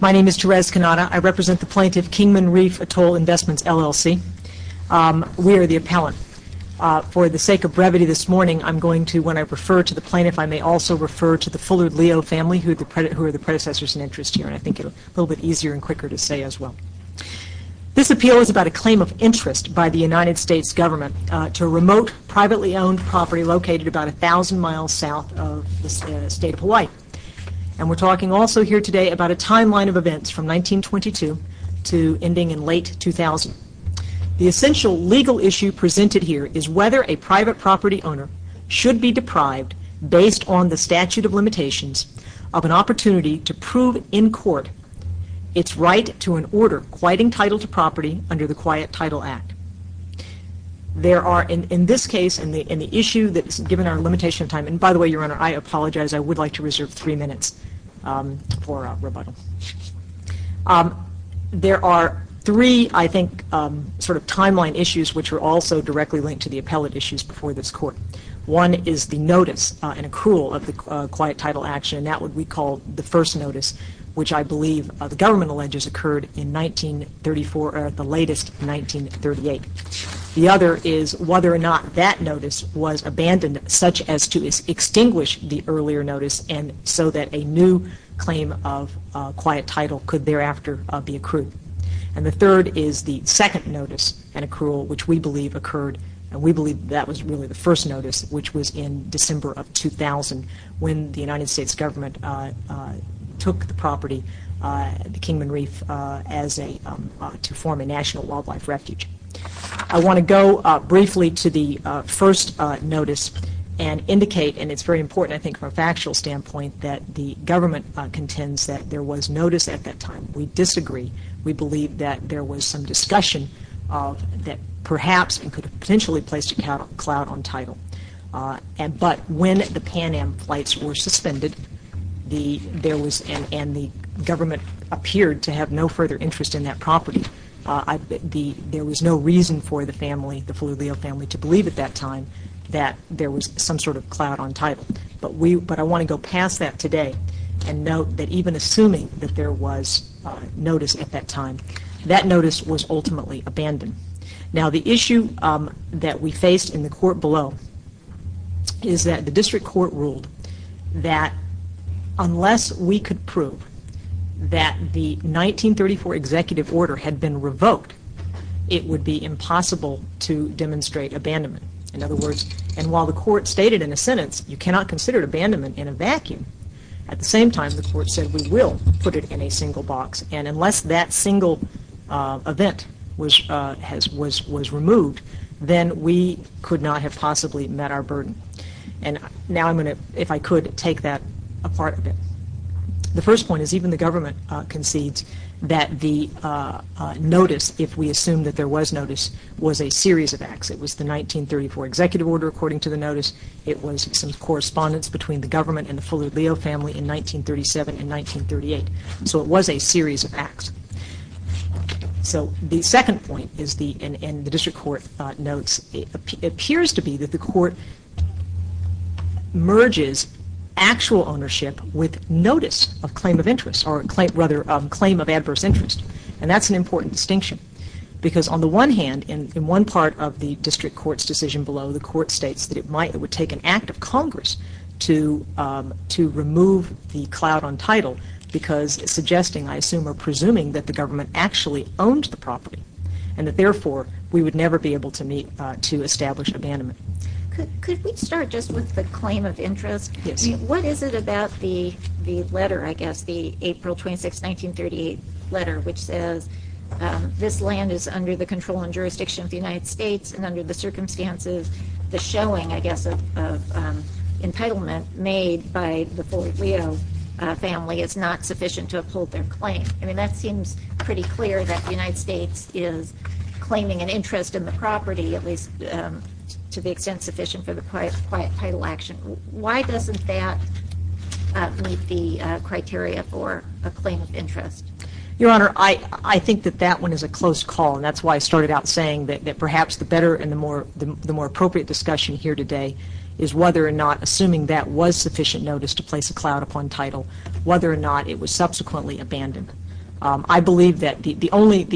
My name is Therese Cannata. I represent the plaintiff, Kingman Reef Atoll Investments, LLC. We are the appellant. For the sake of brevity this morning, I am going to, when I refer to the plaintiff, I may also refer to the Fuller Leo family, who are the predecessors in interest here, and I think it will be a little bit easier and quicker to say as well. This appeal is about a claim of interest by the United States government to a remote, privately owned property located about 1,000 miles south of the state of Hawaii, and we are talking also here today about a timeline of events from 1922 to ending in late 2000. The essential legal issue presented here is whether a private property owner should be deprived, based on the statute of limitations, of an opportunity to prove in court its right to an order quieting title to property under the Quiet Title Act. There are, in this case, in the issue that's given our limitation of time, and by the way, Your Honor, I apologize. I would like to reserve three minutes for rebuttal. There are three, I think, sort of timeline issues which are also directly linked to the appellate issues before this Court. One is the notice and accrual of the Quiet Title Act, and that would be called the first notice, which I believe the government alleges occurred in 1934, or at the latest, 1938. The other is whether or not that notice was abandoned, such as to extinguish the earlier notice, and so that a new claim of quiet title could thereafter be accrued. And the third is the second notice and accrual, which we believe occurred, and we believe that was really the first notice, which was in December of 2000, when the United States government took the property, the Kingman Reef, to form a national wildlife refuge. I want to go briefly to the first notice and indicate, and it's very important, I think, from a factual standpoint, that the government contends that there was notice at that time. We disagree. We believe that there was some discussion that perhaps could have potentially placed a clout on title. But when the Pan Am flights were suspended, and the government appeared to have no further interest in that property, there was no reason for the family, the Felullo family, to believe at that time that there was some sort of clout on title. But I want to go past that today and note that even assuming that there was notice at that time, that notice was ultimately abandoned. Now the issue that we faced in the court below is that the district court ruled that unless we could prove that the 1934 executive order had been revoked, it would be impossible to demonstrate abandonment. In other words, and while the court stated in a sentence you cannot consider abandonment in a vacuum, at the same time the court said we will put it in a single box. And unless that single event was removed, then we could not have possibly met our burden. And now I'm going to, if I could, take that apart a bit. The first point is even the government concedes that the notice, if we assume that there was notice, was a series of acts. It was the 1934 executive order, according to the notice, it was some correspondence between the government and the Felullo family in 1937 and 1938. So it was a series of acts. So the second point is the, and the district court notes, it appears to be that the court merges actual ownership with notice of claim of interest, or rather claim of adverse interest. And that's an important distinction. Because on the one hand, in one part of the district court's decision below, the court states that it might, it would take an act of Congress to remove the clout on title, because suggesting, I assume, or presuming that the government actually owned the property, and that therefore we would never be able to meet, to establish abandonment. Could we start just with the claim of interest? Yes. What is it about the letter, I guess, the April 26, 1938 letter, which says this land is under the control and jurisdiction of the United States, and under the circumstances the showing, I guess, of entitlement made by the Felullo family is not sufficient to uphold their claim. I mean, that seems pretty clear that the United States is claiming an interest in the property, at least to the extent sufficient for the quiet title action. Why doesn't that meet the criteria for a claim of interest? Your Honor, I think that that one is a close call, and that's why I started out saying that perhaps the better and the more appropriate discussion here today is whether or not, assuming that was sufficient notice to place a clout upon title, whether or not it was subsequently abandoned. I believe that the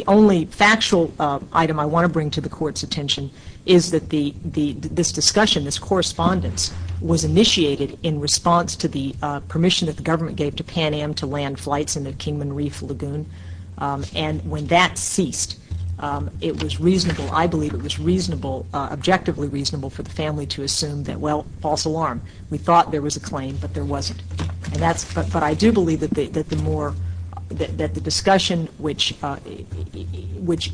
only factual item I want to bring to the Court's attention is that this discussion, this correspondence, was initiated in response to the permission that the government gave to Pan Am to land flights in the Kingman Reef Lagoon, and when that ceased, it was reasonable, I believe it was reasonable, objectively reasonable for the family to assume that, well, false alarm. We thought there was a claim, but there wasn't. And that's, but I do believe that the more, that the discussion which, which,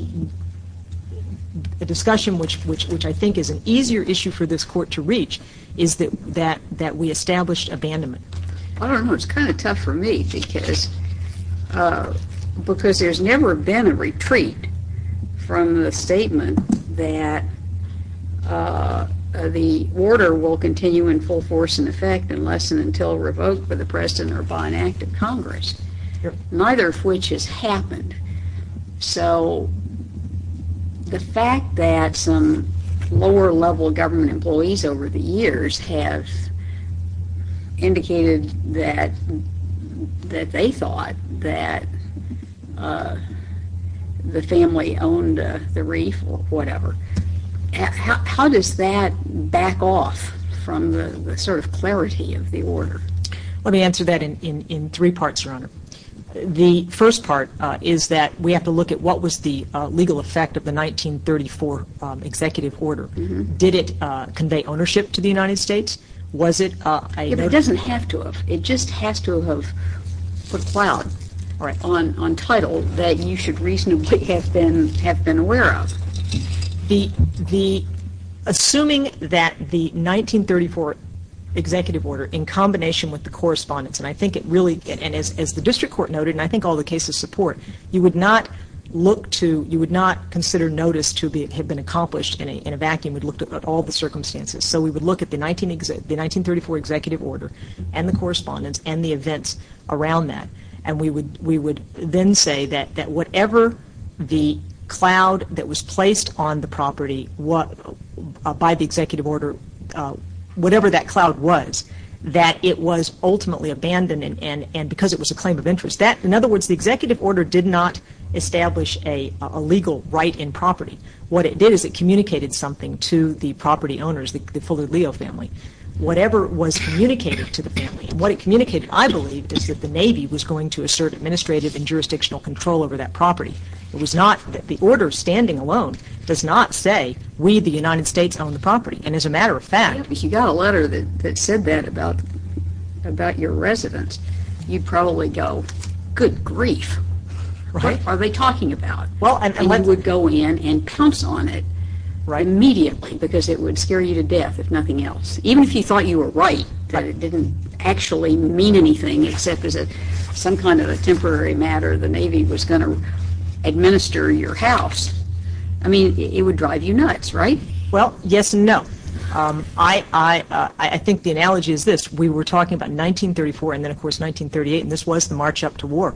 the discussion which I think is an easier issue for this Court to reach is that we established abandonment. I don't know, it's kind of tough for me because, because there's never been a retreat from the statement that the order will continue in full force and effect unless and until revoked by the President or by an act of Congress, neither of which has happened. So the fact that some lower level government employees over the years have indicated that, that they thought that the family owned the reef or whatever, how, how does that back off from the sort of clarity of the order? Let me answer that in, in, in three parts, Your Honor. The first part is that we have to look at what was the legal effect of the 1934 executive order. Did it convey ownership to the United States? Was it a, a It doesn't have to have. It just has to have put clout on, on title that you should reasonably have been, have been aware of. The, the, assuming that the 1934 executive order in combination with the correspondence and I think it really, and as, as the District Court noted, and I think all the cases support, you would not look to, you would not consider notice to be, have been accomplished in a, in a vacuum. We'd look at all the circumstances. So we would look at the 19, the 1934 executive order and the correspondence and the events around that and we would, we would then say that, that whatever the clout that was placed on the property, what, by the executive order, whatever that clout was, that it was ultimately abandoned and, and, and because it was a claim of interest, that, in other words, the executive order did not establish a, a legal right in property. What it did is it communicated something to the property owners, the, the Fuller-Leo family. Whatever was communicated to the family and what it communicated, I believe, is that the Navy was going to assert administrative and jurisdictional control over that property. It was not that the order standing alone does not say we, the United States, own the property and as a matter of fact, If you got a letter that, that said that about, about your residence, you'd probably go, good grief, what are they talking about? And you would go in and pounce on it immediately because it would scare you to death, if nothing else. Even if you thought you were right, that it didn't actually mean anything except as a, some kind of a temporary matter the Navy was going to administer your house. I mean, it would drive you nuts, right? Well, yes and no. I, I, I think the analogy is this. We were talking about 1934 and then, of course, 1938 and this was the march up to war.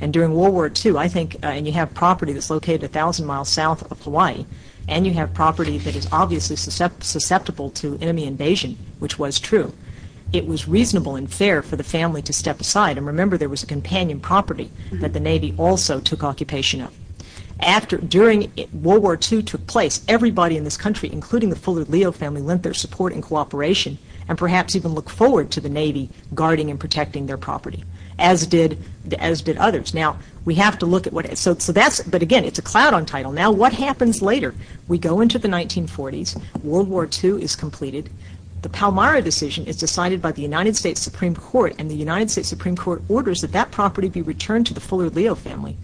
And during World War II, I think, and you have property that's located a thousand miles south of Hawaii and you have property that is obviously susceptible to enemy invasion, which was true. It was reasonable and fair for the family to step aside and remember there was a companion property that the Navy also took occupation of. After, during World War II took place, everybody in this country, including the Fuller-Leo family, lent their support and cooperation and perhaps even look forward to the Navy guarding and protecting their property, as did, as did others. Now, we have to look at what, so, so that's, but again, it's a cloud on title. Now, what happens later? We go into the 1940s. World War II is completed. The Palmyra decision is decided by the United States Supreme Court and the United States Supreme Court orders that that property be returned to the Fuller-Leo family.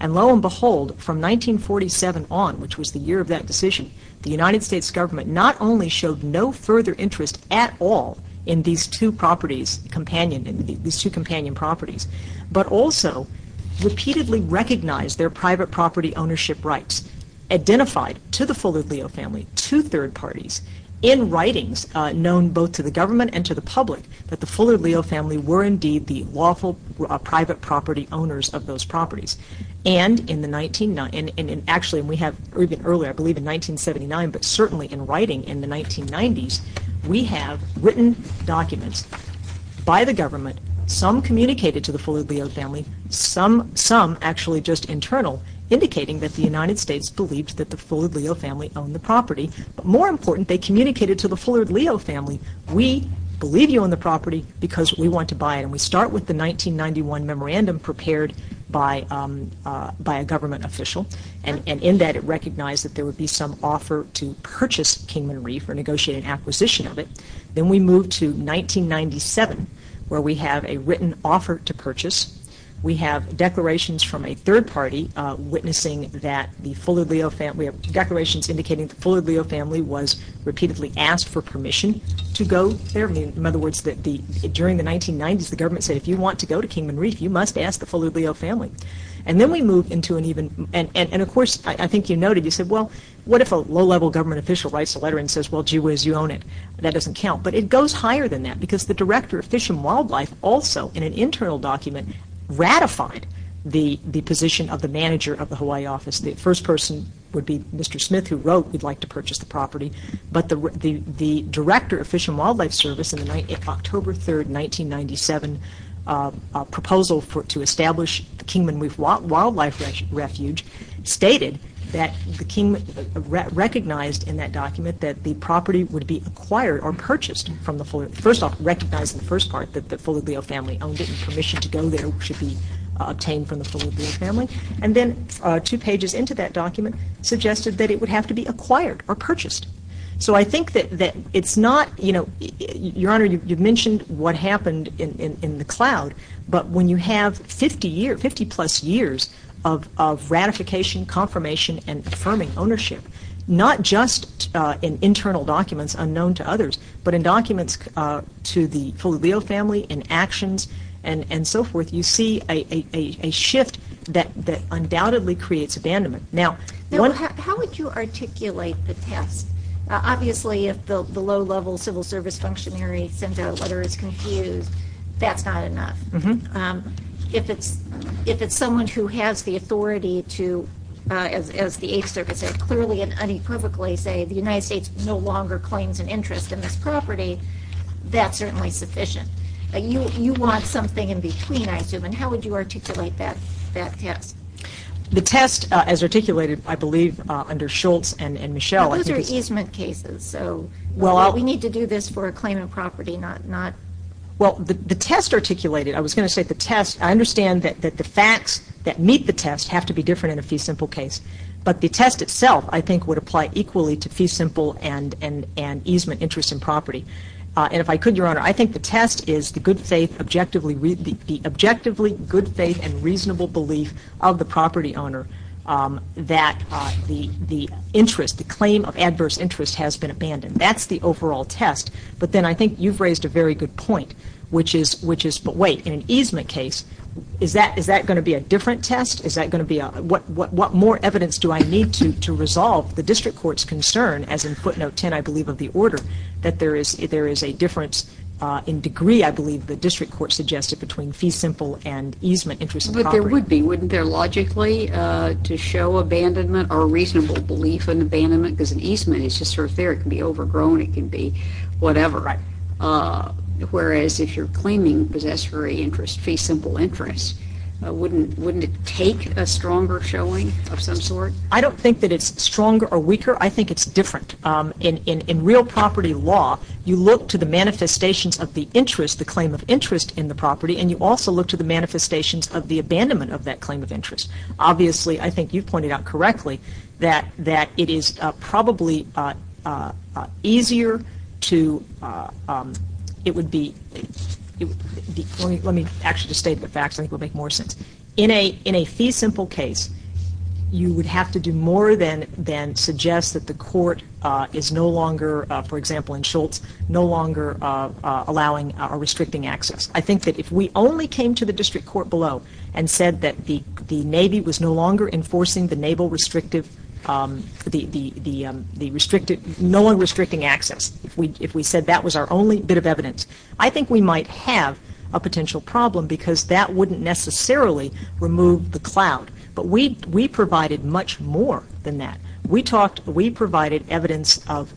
And lo and behold, from 1947 on, which was the year of that decision, the United States government not only showed no further interest at all in these two properties, companion, in these two companion properties, but also repeatedly recognized their private property ownership rights, identified to the Fuller-Leo family, two third parties, in writings known both to the government and to the public that the Fuller-Leo family were indeed the lawful private property owners of those properties. And in the 1990s, and actually we have, even earlier, I believe in 1979, but certainly in writing in the 1990s, we have written documents by the government, some communicated to the Fuller-Leo family, some, some actually just internal, indicating that the United States believed that the Fuller-Leo family owned the property. But more important, they communicated to the Fuller-Leo family, we believe you own the property because we want to buy it. And we start with the 1991 memorandum prepared by, by a government official. And in that it recognized that there would be some offer to purchase Kingman Reef or negotiate an acquisition of it. Then we move to 1997, where we have a written offer to purchase. We have declarations from a third party witnessing that the Fuller-Leo family, declarations indicating the Fuller-Leo family was repeatedly asked for permission to go there. In other words, during the 1990s, the government said if you want to go to Kingman Reef, you must ask the Fuller-Leo family. And then we move into an even, and of course, I think you noted, you said, well, what if a low-level government official writes a letter and says, well, gee whiz, you own it. That doesn't count. But it goes higher than that because the director of Fish and Wildlife also in an internal document ratified the position of the manager of the Hawaii office. The first person would be Mr. Smith, who wrote, we'd like to purchase the property. But the director of Fish and Wildlife Service in the October 3rd, 1997 proposal to establish the Kingman Reef Wildlife Refuge stated that, recognized in that document that the property would be acquired or purchased from the Fuller-Leo. First off, recognized in the first part that the Fuller-Leo family owned it and permission to go there should be obtained from the Fuller-Leo family. And then two pages into that document suggested that it would have to be acquired or purchased. So I think that it's not, you know, Your Honor, you've mentioned what happened in the cloud. But when you have 50 years, 50 plus years of ratification, confirmation, and affirming ownership, not just in internal documents unknown to others, but in documents to the Fuller-Leo family, in actions, and so forth, you see a shift that undoubtedly creates abandonment. Now, how would you articulate the test? Obviously, if the low-level civil service functionary sends out a letter that's confused, that's not enough. If it's someone who has the authority to, as the Eighth Circuit said, clearly and unequivocally say the United States, that's certainly sufficient. You want something in between, I assume. And how would you articulate that test? The test, as articulated, I believe, under Schultz and Michel, I think it's Those are easement cases. So we need to do this for a claimant property, not Well, the test articulated, I was going to say the test, I understand that the facts that meet the test have to be different in a fee simple case. But the test itself, I interest in property. And if I could, Your Honor, I think the test is the objectively good faith and reasonable belief of the property owner that the interest, the claim of adverse interest has been abandoned. That's the overall test. But then I think you've raised a very good point, which is, but wait, in an easement case, is that going to be a different test? Is that going to be a, what more evidence do I need to resolve the district court's concern, as in footnote 10, I believe, of the order, that there is a difference in degree, I believe, the district court suggested between fee simple and easement interest in property. But there would be, wouldn't there, logically, to show abandonment or a reasonable belief in abandonment? Because an easement is just sort of there. It can be overgrown. It can be whatever. Right. Whereas, if you're claiming possessory interest, fee simple interest, wouldn't it take a stronger showing of some sort? I don't think that it's stronger or weaker. I think it's different. In real property law, you look to the manifestations of the interest, the claim of interest in the property, and you also look to the manifestations of the abandonment of that claim of interest. Obviously, I think you pointed out correctly that it is probably easier to, it would be, let me actually just state the facts. I think it would make more sense. In a fee simple case, you would have to do more than suggest that the court is no longer, for example, in Schultz, no longer allowing or restricting access. I think that if we only came to the district court below and said that the Navy was no longer enforcing the Naval restrictive, the restricted, no one restricting access, if we said that was our only bit of evidence, I think we might have a potential problem because that wouldn't necessarily remove the cloud. But we provided much more than that. We talked, we provided evidence of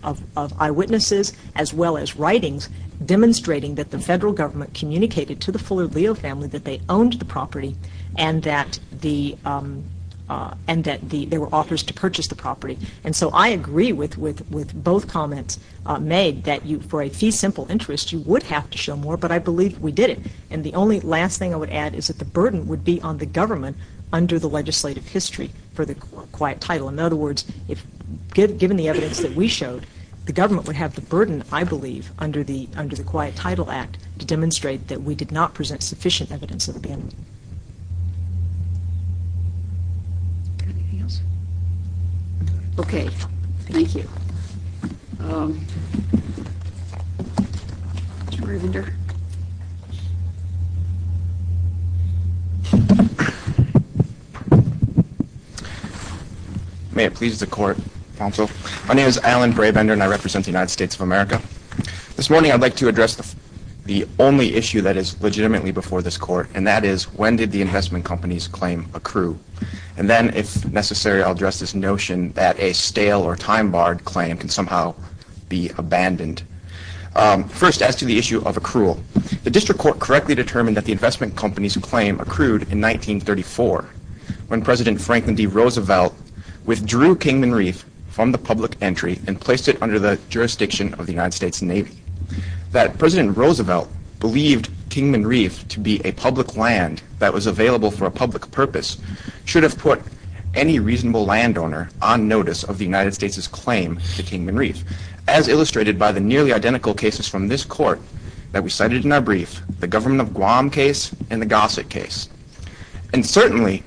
eyewitnesses as well as writings demonstrating that the federal government communicated to the Fuller Leo family that they owned the property and that the, and that there were offers to purchase the property. And so I agree with both comments made that you, for a fee simple interest, you would have to show more, but I believe we did it. And the only last thing I would add is that the burden would be on the government under the legislative history for the quiet title. In other words, if, given the evidence that we showed, the government would have the burden, I believe, under the, under the Quiet Title Act to demonstrate that we did not present sufficient evidence of abandonment. Anything else? Okay. Thank you. Mr. Braybender. May it please the Court, Counsel. My name is Alan Braybender and I represent the United States of America. This morning I'd like to address the only issue that is legitimately before this Court, and that is, when did the investment companies claim accrue? And then, if necessary, I'll address this notion that a stale or time-barred claim can somehow be abandoned. First, as to the issue of accrual, the District Court correctly determined that the investment companies claim accrued in 1934, when President Franklin D. Roosevelt withdrew Kingman Reef from the public entry and placed it under the jurisdiction of the United States Navy. That President Roosevelt believed Kingman Reef to be a public land that was available for a public purpose should have put any reasonable landowner on notice of the United States' claim to Kingman Reef, as illustrated by the nearly identical cases from this Court that we cited in our brief, the Government of Guam case and the Gossett case. And certainly,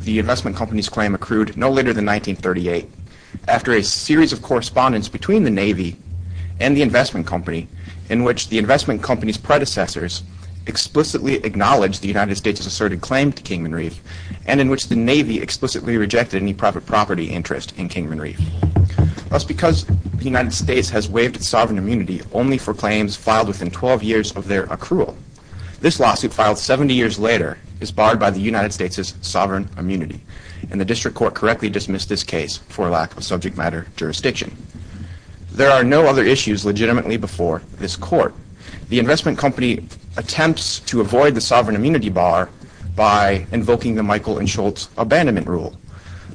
the investment companies claim accrued no later than 1938, after a series of correspondence between the Navy and the investment company, in which the investment company's predecessors explicitly acknowledged the United States' asserted claim to Kingman Reef, and in which the Navy explicitly rejected any private property interest in Kingman Reef. Thus, because the United States has waived its sovereign immunity only for claims filed within 12 years of their accrual, this lawsuit, filed 70 years later, is barred by the United States' sovereign immunity, and the District Court correctly dismissed this case for a lack of subject matter jurisdiction. There are no other issues legitimately before this Court. The investment company attempts to avoid the sovereign immunity bar by invoking the Michael and Schultz Abandonment Rule.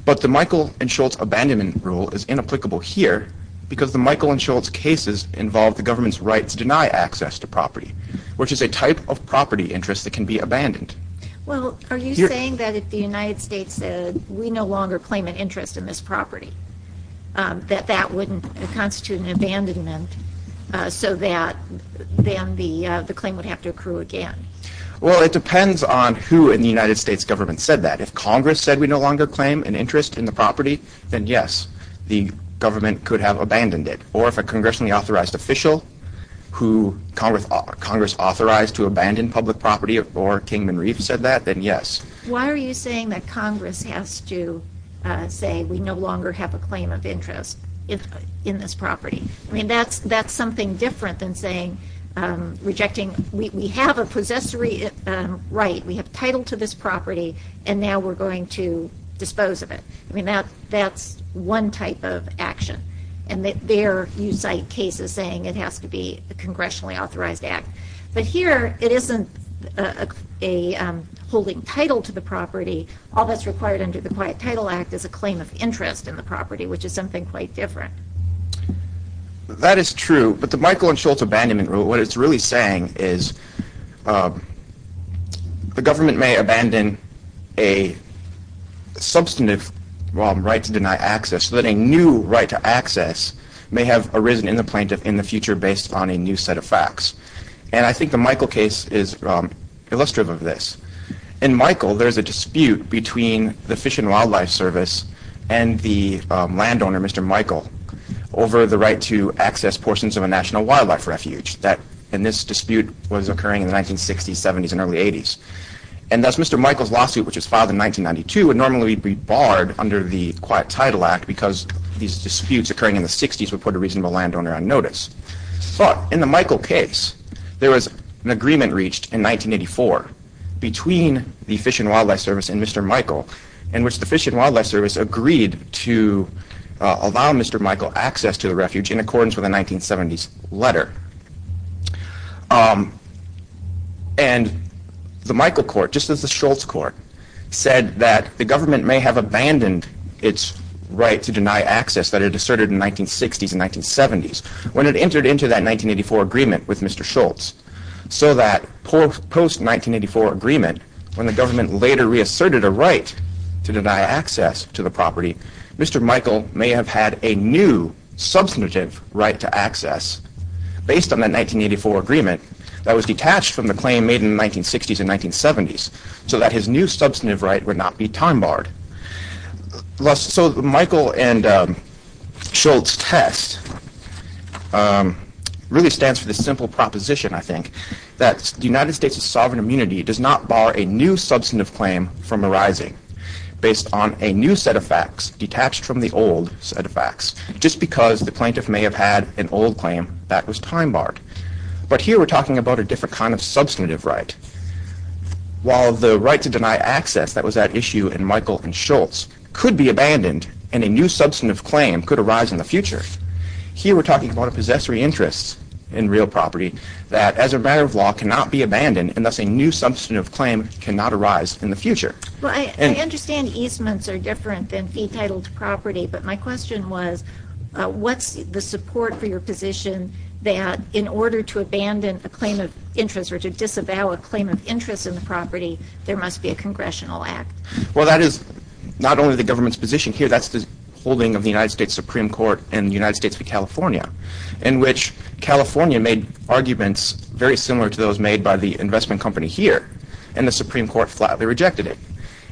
But the Michael and Schultz Abandonment Rule is inapplicable here, because the Michael and Schultz cases involve the government's right to deny access to property, which is a type of property interest that can be abandoned. Well, are you saying that if the United States said, we no longer claim an interest in this property, that that wouldn't constitute an abandonment, so that then the claim would have to accrue again? Well, it depends on who in the United States government said that. If Congress said we no longer claim an interest in the property, then yes, the government could have abandoned it. Or if a congressionally authorized official who Congress authorized to abandon public property said that, then yes. Why are you saying that Congress has to say we no longer have a claim of interest in this property? I mean, that's something different than saying, rejecting, we have a possessory right, we have title to this property, and now we're going to dispose of it. I mean, that's one type of action. And there you cite cases saying it has to be a congressionally authorized act. But here, it isn't a holding title to the property. All that's required under the Quiet Title Act is a claim of interest in the property, which is something quite different. That is true. But the Michael and Schultz Abandonment Rule, what it's really saying is the government may abandon a substantive right to deny access, so that a new right to access may have arisen in the plaintiff in the future based on a new set of facts. And I think the Michael case is illustrative of this. In Michael, there's a dispute between the Fish and Wildlife Service and the landowner, Mr. Michael, over the right to access portions of a National Wildlife Refuge. And this dispute was occurring in the 1960s, 70s, and early 80s. And thus, Mr. Michael's lawsuit, which was filed in 1992, would normally be barred under the Quiet Title Act, because these disputes occurring in the 60s would put a reasonable landowner on notice. But in the Michael case, there was an agreement reached in 1984 between the Fish and Wildlife Service and Mr. Michael, in which the Fish and Wildlife Service agreed to allow Mr. Michael access to the refuge in accordance with a 1970s letter. And the Michael court, just as the Schultz court, said that the government may have abandoned its right to deny access that it asserted in the 1960s and 1970s, when it entered into that 1984 agreement with Mr. Schultz, so that post-1984 agreement, when the government later reasserted a right to deny access to the property, Mr. Michael may have had a new substantive right to access, based on that 1984 agreement, that was detached from the claim made in the 1960s and 1970s, so that his new substantive right would not be time barred. So Michael and Schultz's test really stands for this simple proposition, I think, that the United States' sovereign immunity does not bar a new substantive claim from arising, based on a new set of facts, detached from the old set of facts, just because the plaintiff may have had an old claim that was time barred. But here we're talking about a different kind of substantive right, while the right to deny access that was at issue in Michael and Schultz could be abandoned, and a new substantive claim could arise in the future, here we're talking about a possessory interest in real property that, as a matter of law, cannot be abandoned, and thus a new substantive claim cannot arise in the future. Well, I understand easements are different than fee-titled property, but my question was, what's the support for your position that, in order to abandon a claim of interest or to disavow a claim of interest in the property, there must be a congressional act? Well, that is not only the government's position here, that's the holding of the United States Supreme Court in the United States v. California, in which California made arguments very similar to those made by the investment company here, and the Supreme Court flatly rejected it,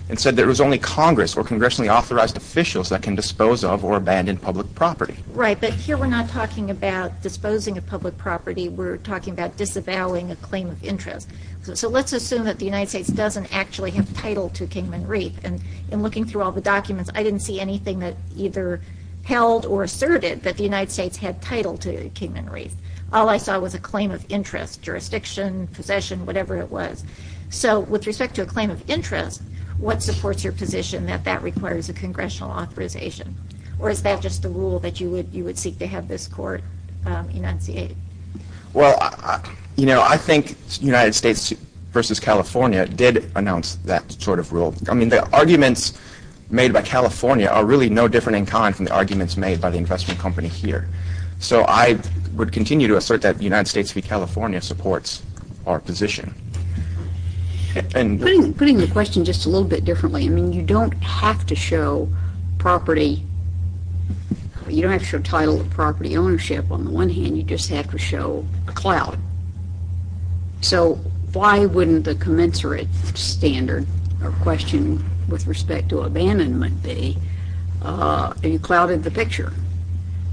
and said that it was only Congress or congressionally authorized officials that can dispose of or abandon public property. Right, but here we're not talking about disposing of public property, we're talking about disavowing a claim of interest. So let's assume that the United States doesn't actually have title to Kingman Reef, and in looking through all the documents, I didn't see anything that either held or asserted that the United States had title to Kingman Reef. All I saw was a claim of interest, jurisdiction, possession, whatever it was. So with respect to a claim of interest, what supports your position that that requires a congressional authorization? Or is that just a rule that you would seek to have this court enunciate? Well, you know, I think United States v. California did announce that sort of rule. I mean, the arguments made by California are really no different in kind from the arguments made by the investment company here. So I would continue to assert that United States v. California supports our position. Putting the question just a little bit differently, I mean, you don't have to show title of property ownership on the one hand, you just have to show a clout. So why wouldn't the commensurate standard or question with respect to abandonment be you clouted the picture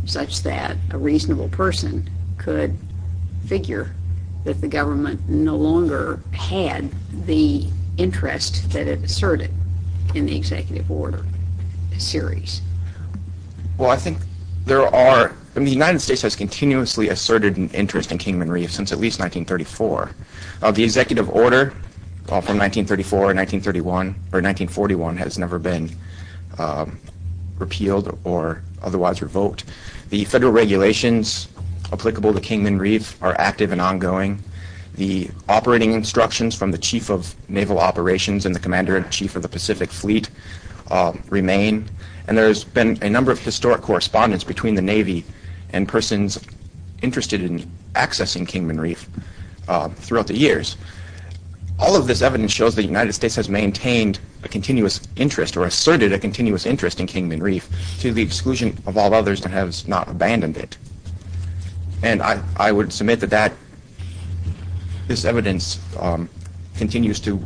such that a reasonable person could figure that the government no longer had the interest that it asserted in the executive order series? Well, I think there are, I mean, the United States has continuously asserted an interest in Kingman Reef since at least 1934. The executive order from 1934 or 1931 or 1941 has never been repealed or otherwise revoked. The federal regulations applicable to Kingman Reef are active and ongoing. The operating instructions from the Chief of Naval Operations and the Commander-in-Chief of the Pacific Fleet remain. And there's been a number of historic correspondence between the Navy and persons interested in accessing Kingman Reef throughout the years. All of this evidence shows the United States has maintained a continuous interest or asserted a continuous interest in Kingman Reef to the exclusion of all others that has not abandoned it. And I would submit that this evidence continues to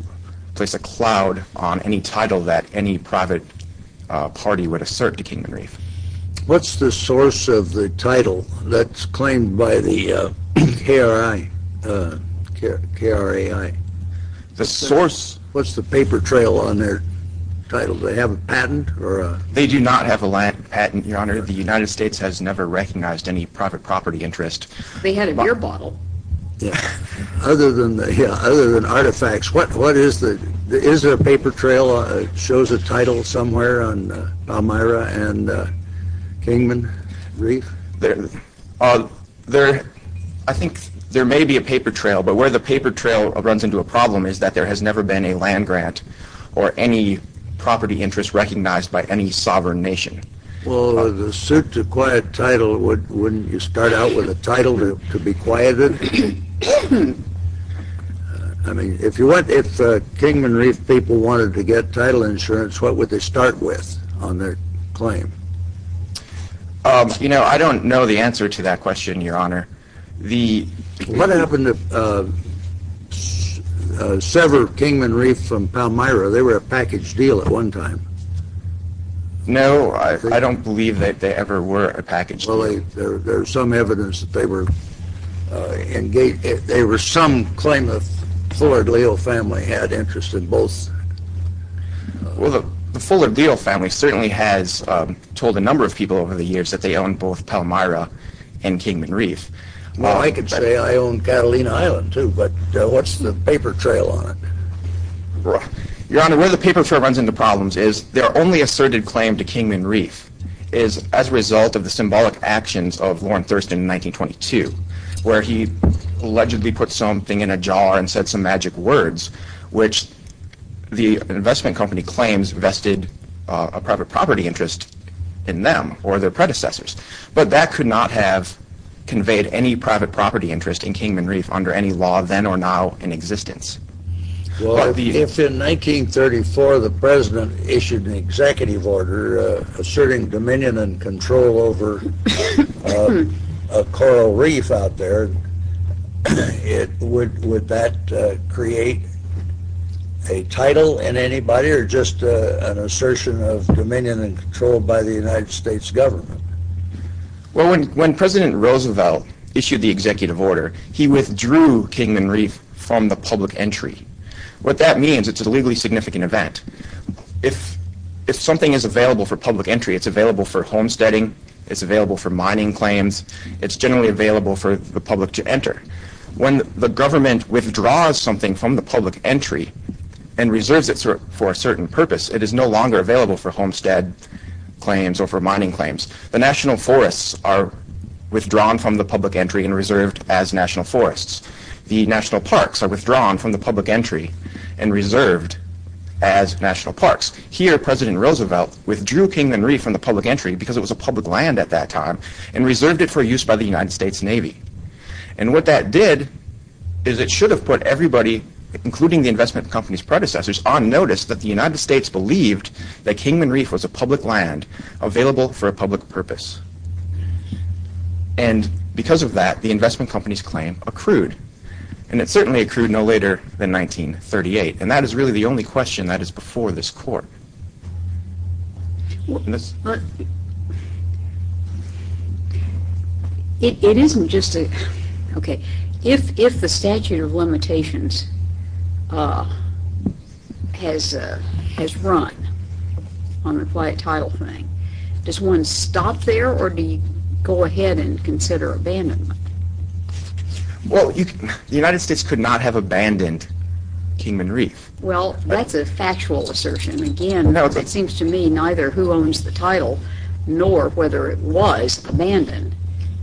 place a cloud on any title that any private party would assert to Kingman Reef. What's the source of the title that's claimed by the KRI, K-R-A-I? The source? What's the paper trail on their title? Do they have a patent? They do not have a patent, Your Honor. The United States has never recognized any private property interest. They had a beer bottle. Other than artifacts, is there a paper trail that shows a title somewhere on Palmyra and Kingman Reef? I think there may be a paper trail, but where the paper trail runs into a problem is that there has never been a land grant or any property interest recognized by any sovereign nation. Well, the suit to acquire a title, wouldn't you start out with a title to be quieted? I mean, if Kingman Reef people wanted to get title insurance, what would they start with on their claim? You know, I don't know the answer to that question, Your Honor. What happened to several Kingman Reef from Palmyra? They were a package deal at one time. No, I don't believe that they ever were a package deal. Well, there's some evidence that they were engaged, there was some claim that the Fullard Leo family had interest in both. Well, the Fullard Leo family certainly has told a number of people over the years that they own both Palmyra and Kingman Reef. Well, I could say I own Catalina Island, too, but what's the paper trail on it? Your Honor, where the paper trail runs into problems is their only asserted claim to Kingman Reef is as a result of the symbolic actions of Lorne Thurston in 1922, where he allegedly put something in a jar and said some magic words, which the investment company claims vested a private property interest in them or their predecessors, but that could not have conveyed any private property interest in Kingman Reef under any law then or now in existence. Well, if in 1934 the President issued an executive order asserting dominion and control over a coral reef out there, would that create a title in anybody or just an assertion of dominion and control by the United States government? Well, when President Roosevelt issued the executive order, he withdrew Kingman Reef from the public entry. What that means, it's a legally significant event. If something is available for public entry, it's available for homesteading, it's available for mining claims, it's generally available for the public to enter. When the government withdraws something from the public entry and reserves it for a certain purpose, it is no longer available for homestead claims or for mining claims. The national forests are withdrawn from the public entry and reserved as national forests. The national parks are withdrawn from the public entry and reserved as national parks. Here President Roosevelt withdrew Kingman Reef from the public entry because it was a public land at that time and reserved it for use by the United States Navy. And what that did is it should have put everybody, including the investment company's predecessors, on notice that the United States believed that Kingman Reef was a public land available for a public purpose. And because of that, the investment company's claim accrued. And it certainly accrued no later than 1938. And that is really the only question that is before this court. It isn't just a, okay, if the statute of limitations has run on the quiet tile thing, does one stop there or do you go ahead and consider abandonment? Well, the United States could not have abandoned Kingman Reef. Well, that's a factual assertion. Again, it seems to me neither who owns the title nor whether it was abandoned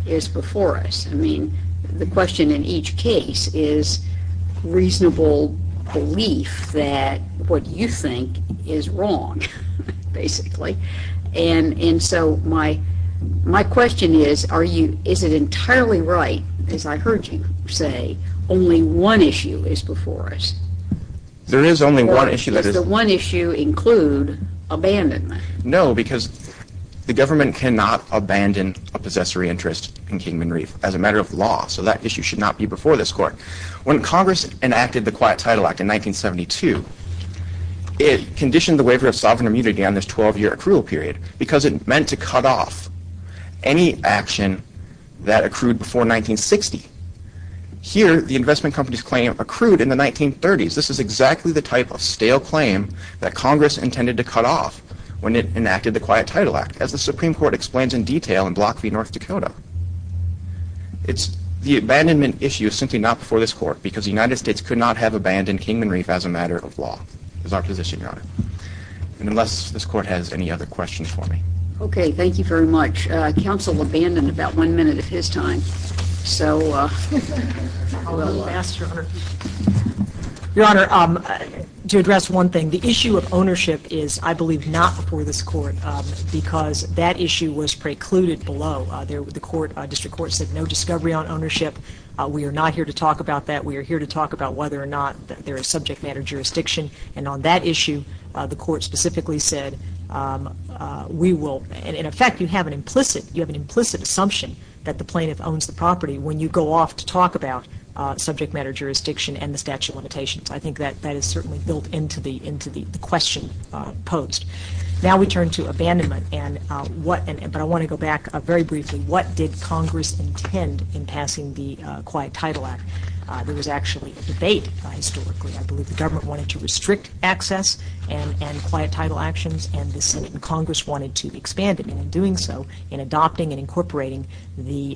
is before us. I mean, the question in each case is reasonable belief that what you think is wrong, basically. And so my question is, is it entirely right, as I heard you say, only one issue is before us? There is only one issue. Does the one issue include abandonment? No, because the government cannot abandon a possessory interest in Kingman Reef as a matter of law. So that issue should not be before this court. When Congress enacted the Quiet Title Act in 1972, it conditioned the waiver of sovereign immunity on this 12-year accrual period because it meant to cut off any action that accrued before 1960. Here, the investment company's claim accrued in the 1930s. This is exactly the type of stale claim that Congress intended to cut off when it enacted the Quiet Title Act, as the Supreme Court explains in detail in Block v. North Dakota. The abandonment issue is simply not before this court because the United States could not have abandoned Kingman Reef as a matter of law. That's our position, Your Honor. And unless this court has any other questions for me. Okay, thank you very much. Counsel abandoned about one minute of his time. So, uh... I'll go last, Your Honor. Your Honor, to address one thing. The issue of ownership is, I believe, not before this court because that issue was precluded below. The District Court said no discovery on ownership. We are not here to talk about that. We are here to talk about whether or not there is subject matter jurisdiction. And on that issue, the court specifically said, we will... In effect, you have an implicit assumption that the plaintiff owns the property when you go off to talk about subject matter jurisdiction and the statute of limitations. I think that is certainly built into the question posed. Now we turn to abandonment. But I want to go back very briefly. What did Congress intend in passing the Quiet Title Act? There was actually a debate, historically. I believe the government wanted to restrict access and Quiet Title actions. And the Senate and Congress wanted to expand it. And in doing so, in adopting and incorporating the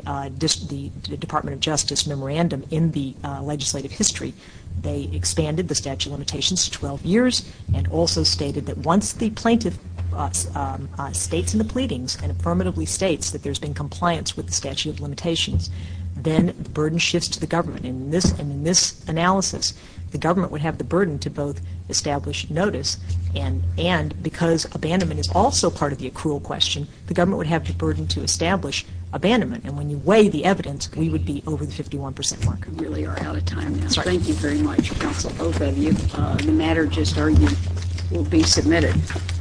Department of Justice memorandum in the legislative history, they expanded the statute of limitations to 12 years and also stated that once the plaintiff states in the pleadings and affirmatively states that there has been compliance with the statute of limitations, then the burden shifts to the government. And in this analysis, the government would have the burden to both establish notice and because abandonment is also part of the accrual question, the government would have the burden to establish abandonment. And when you weigh the evidence, we would be over the 51 percent mark. We really are out of time now. Thank you very much, counsel. Both of you. The matter just argued will be submitted.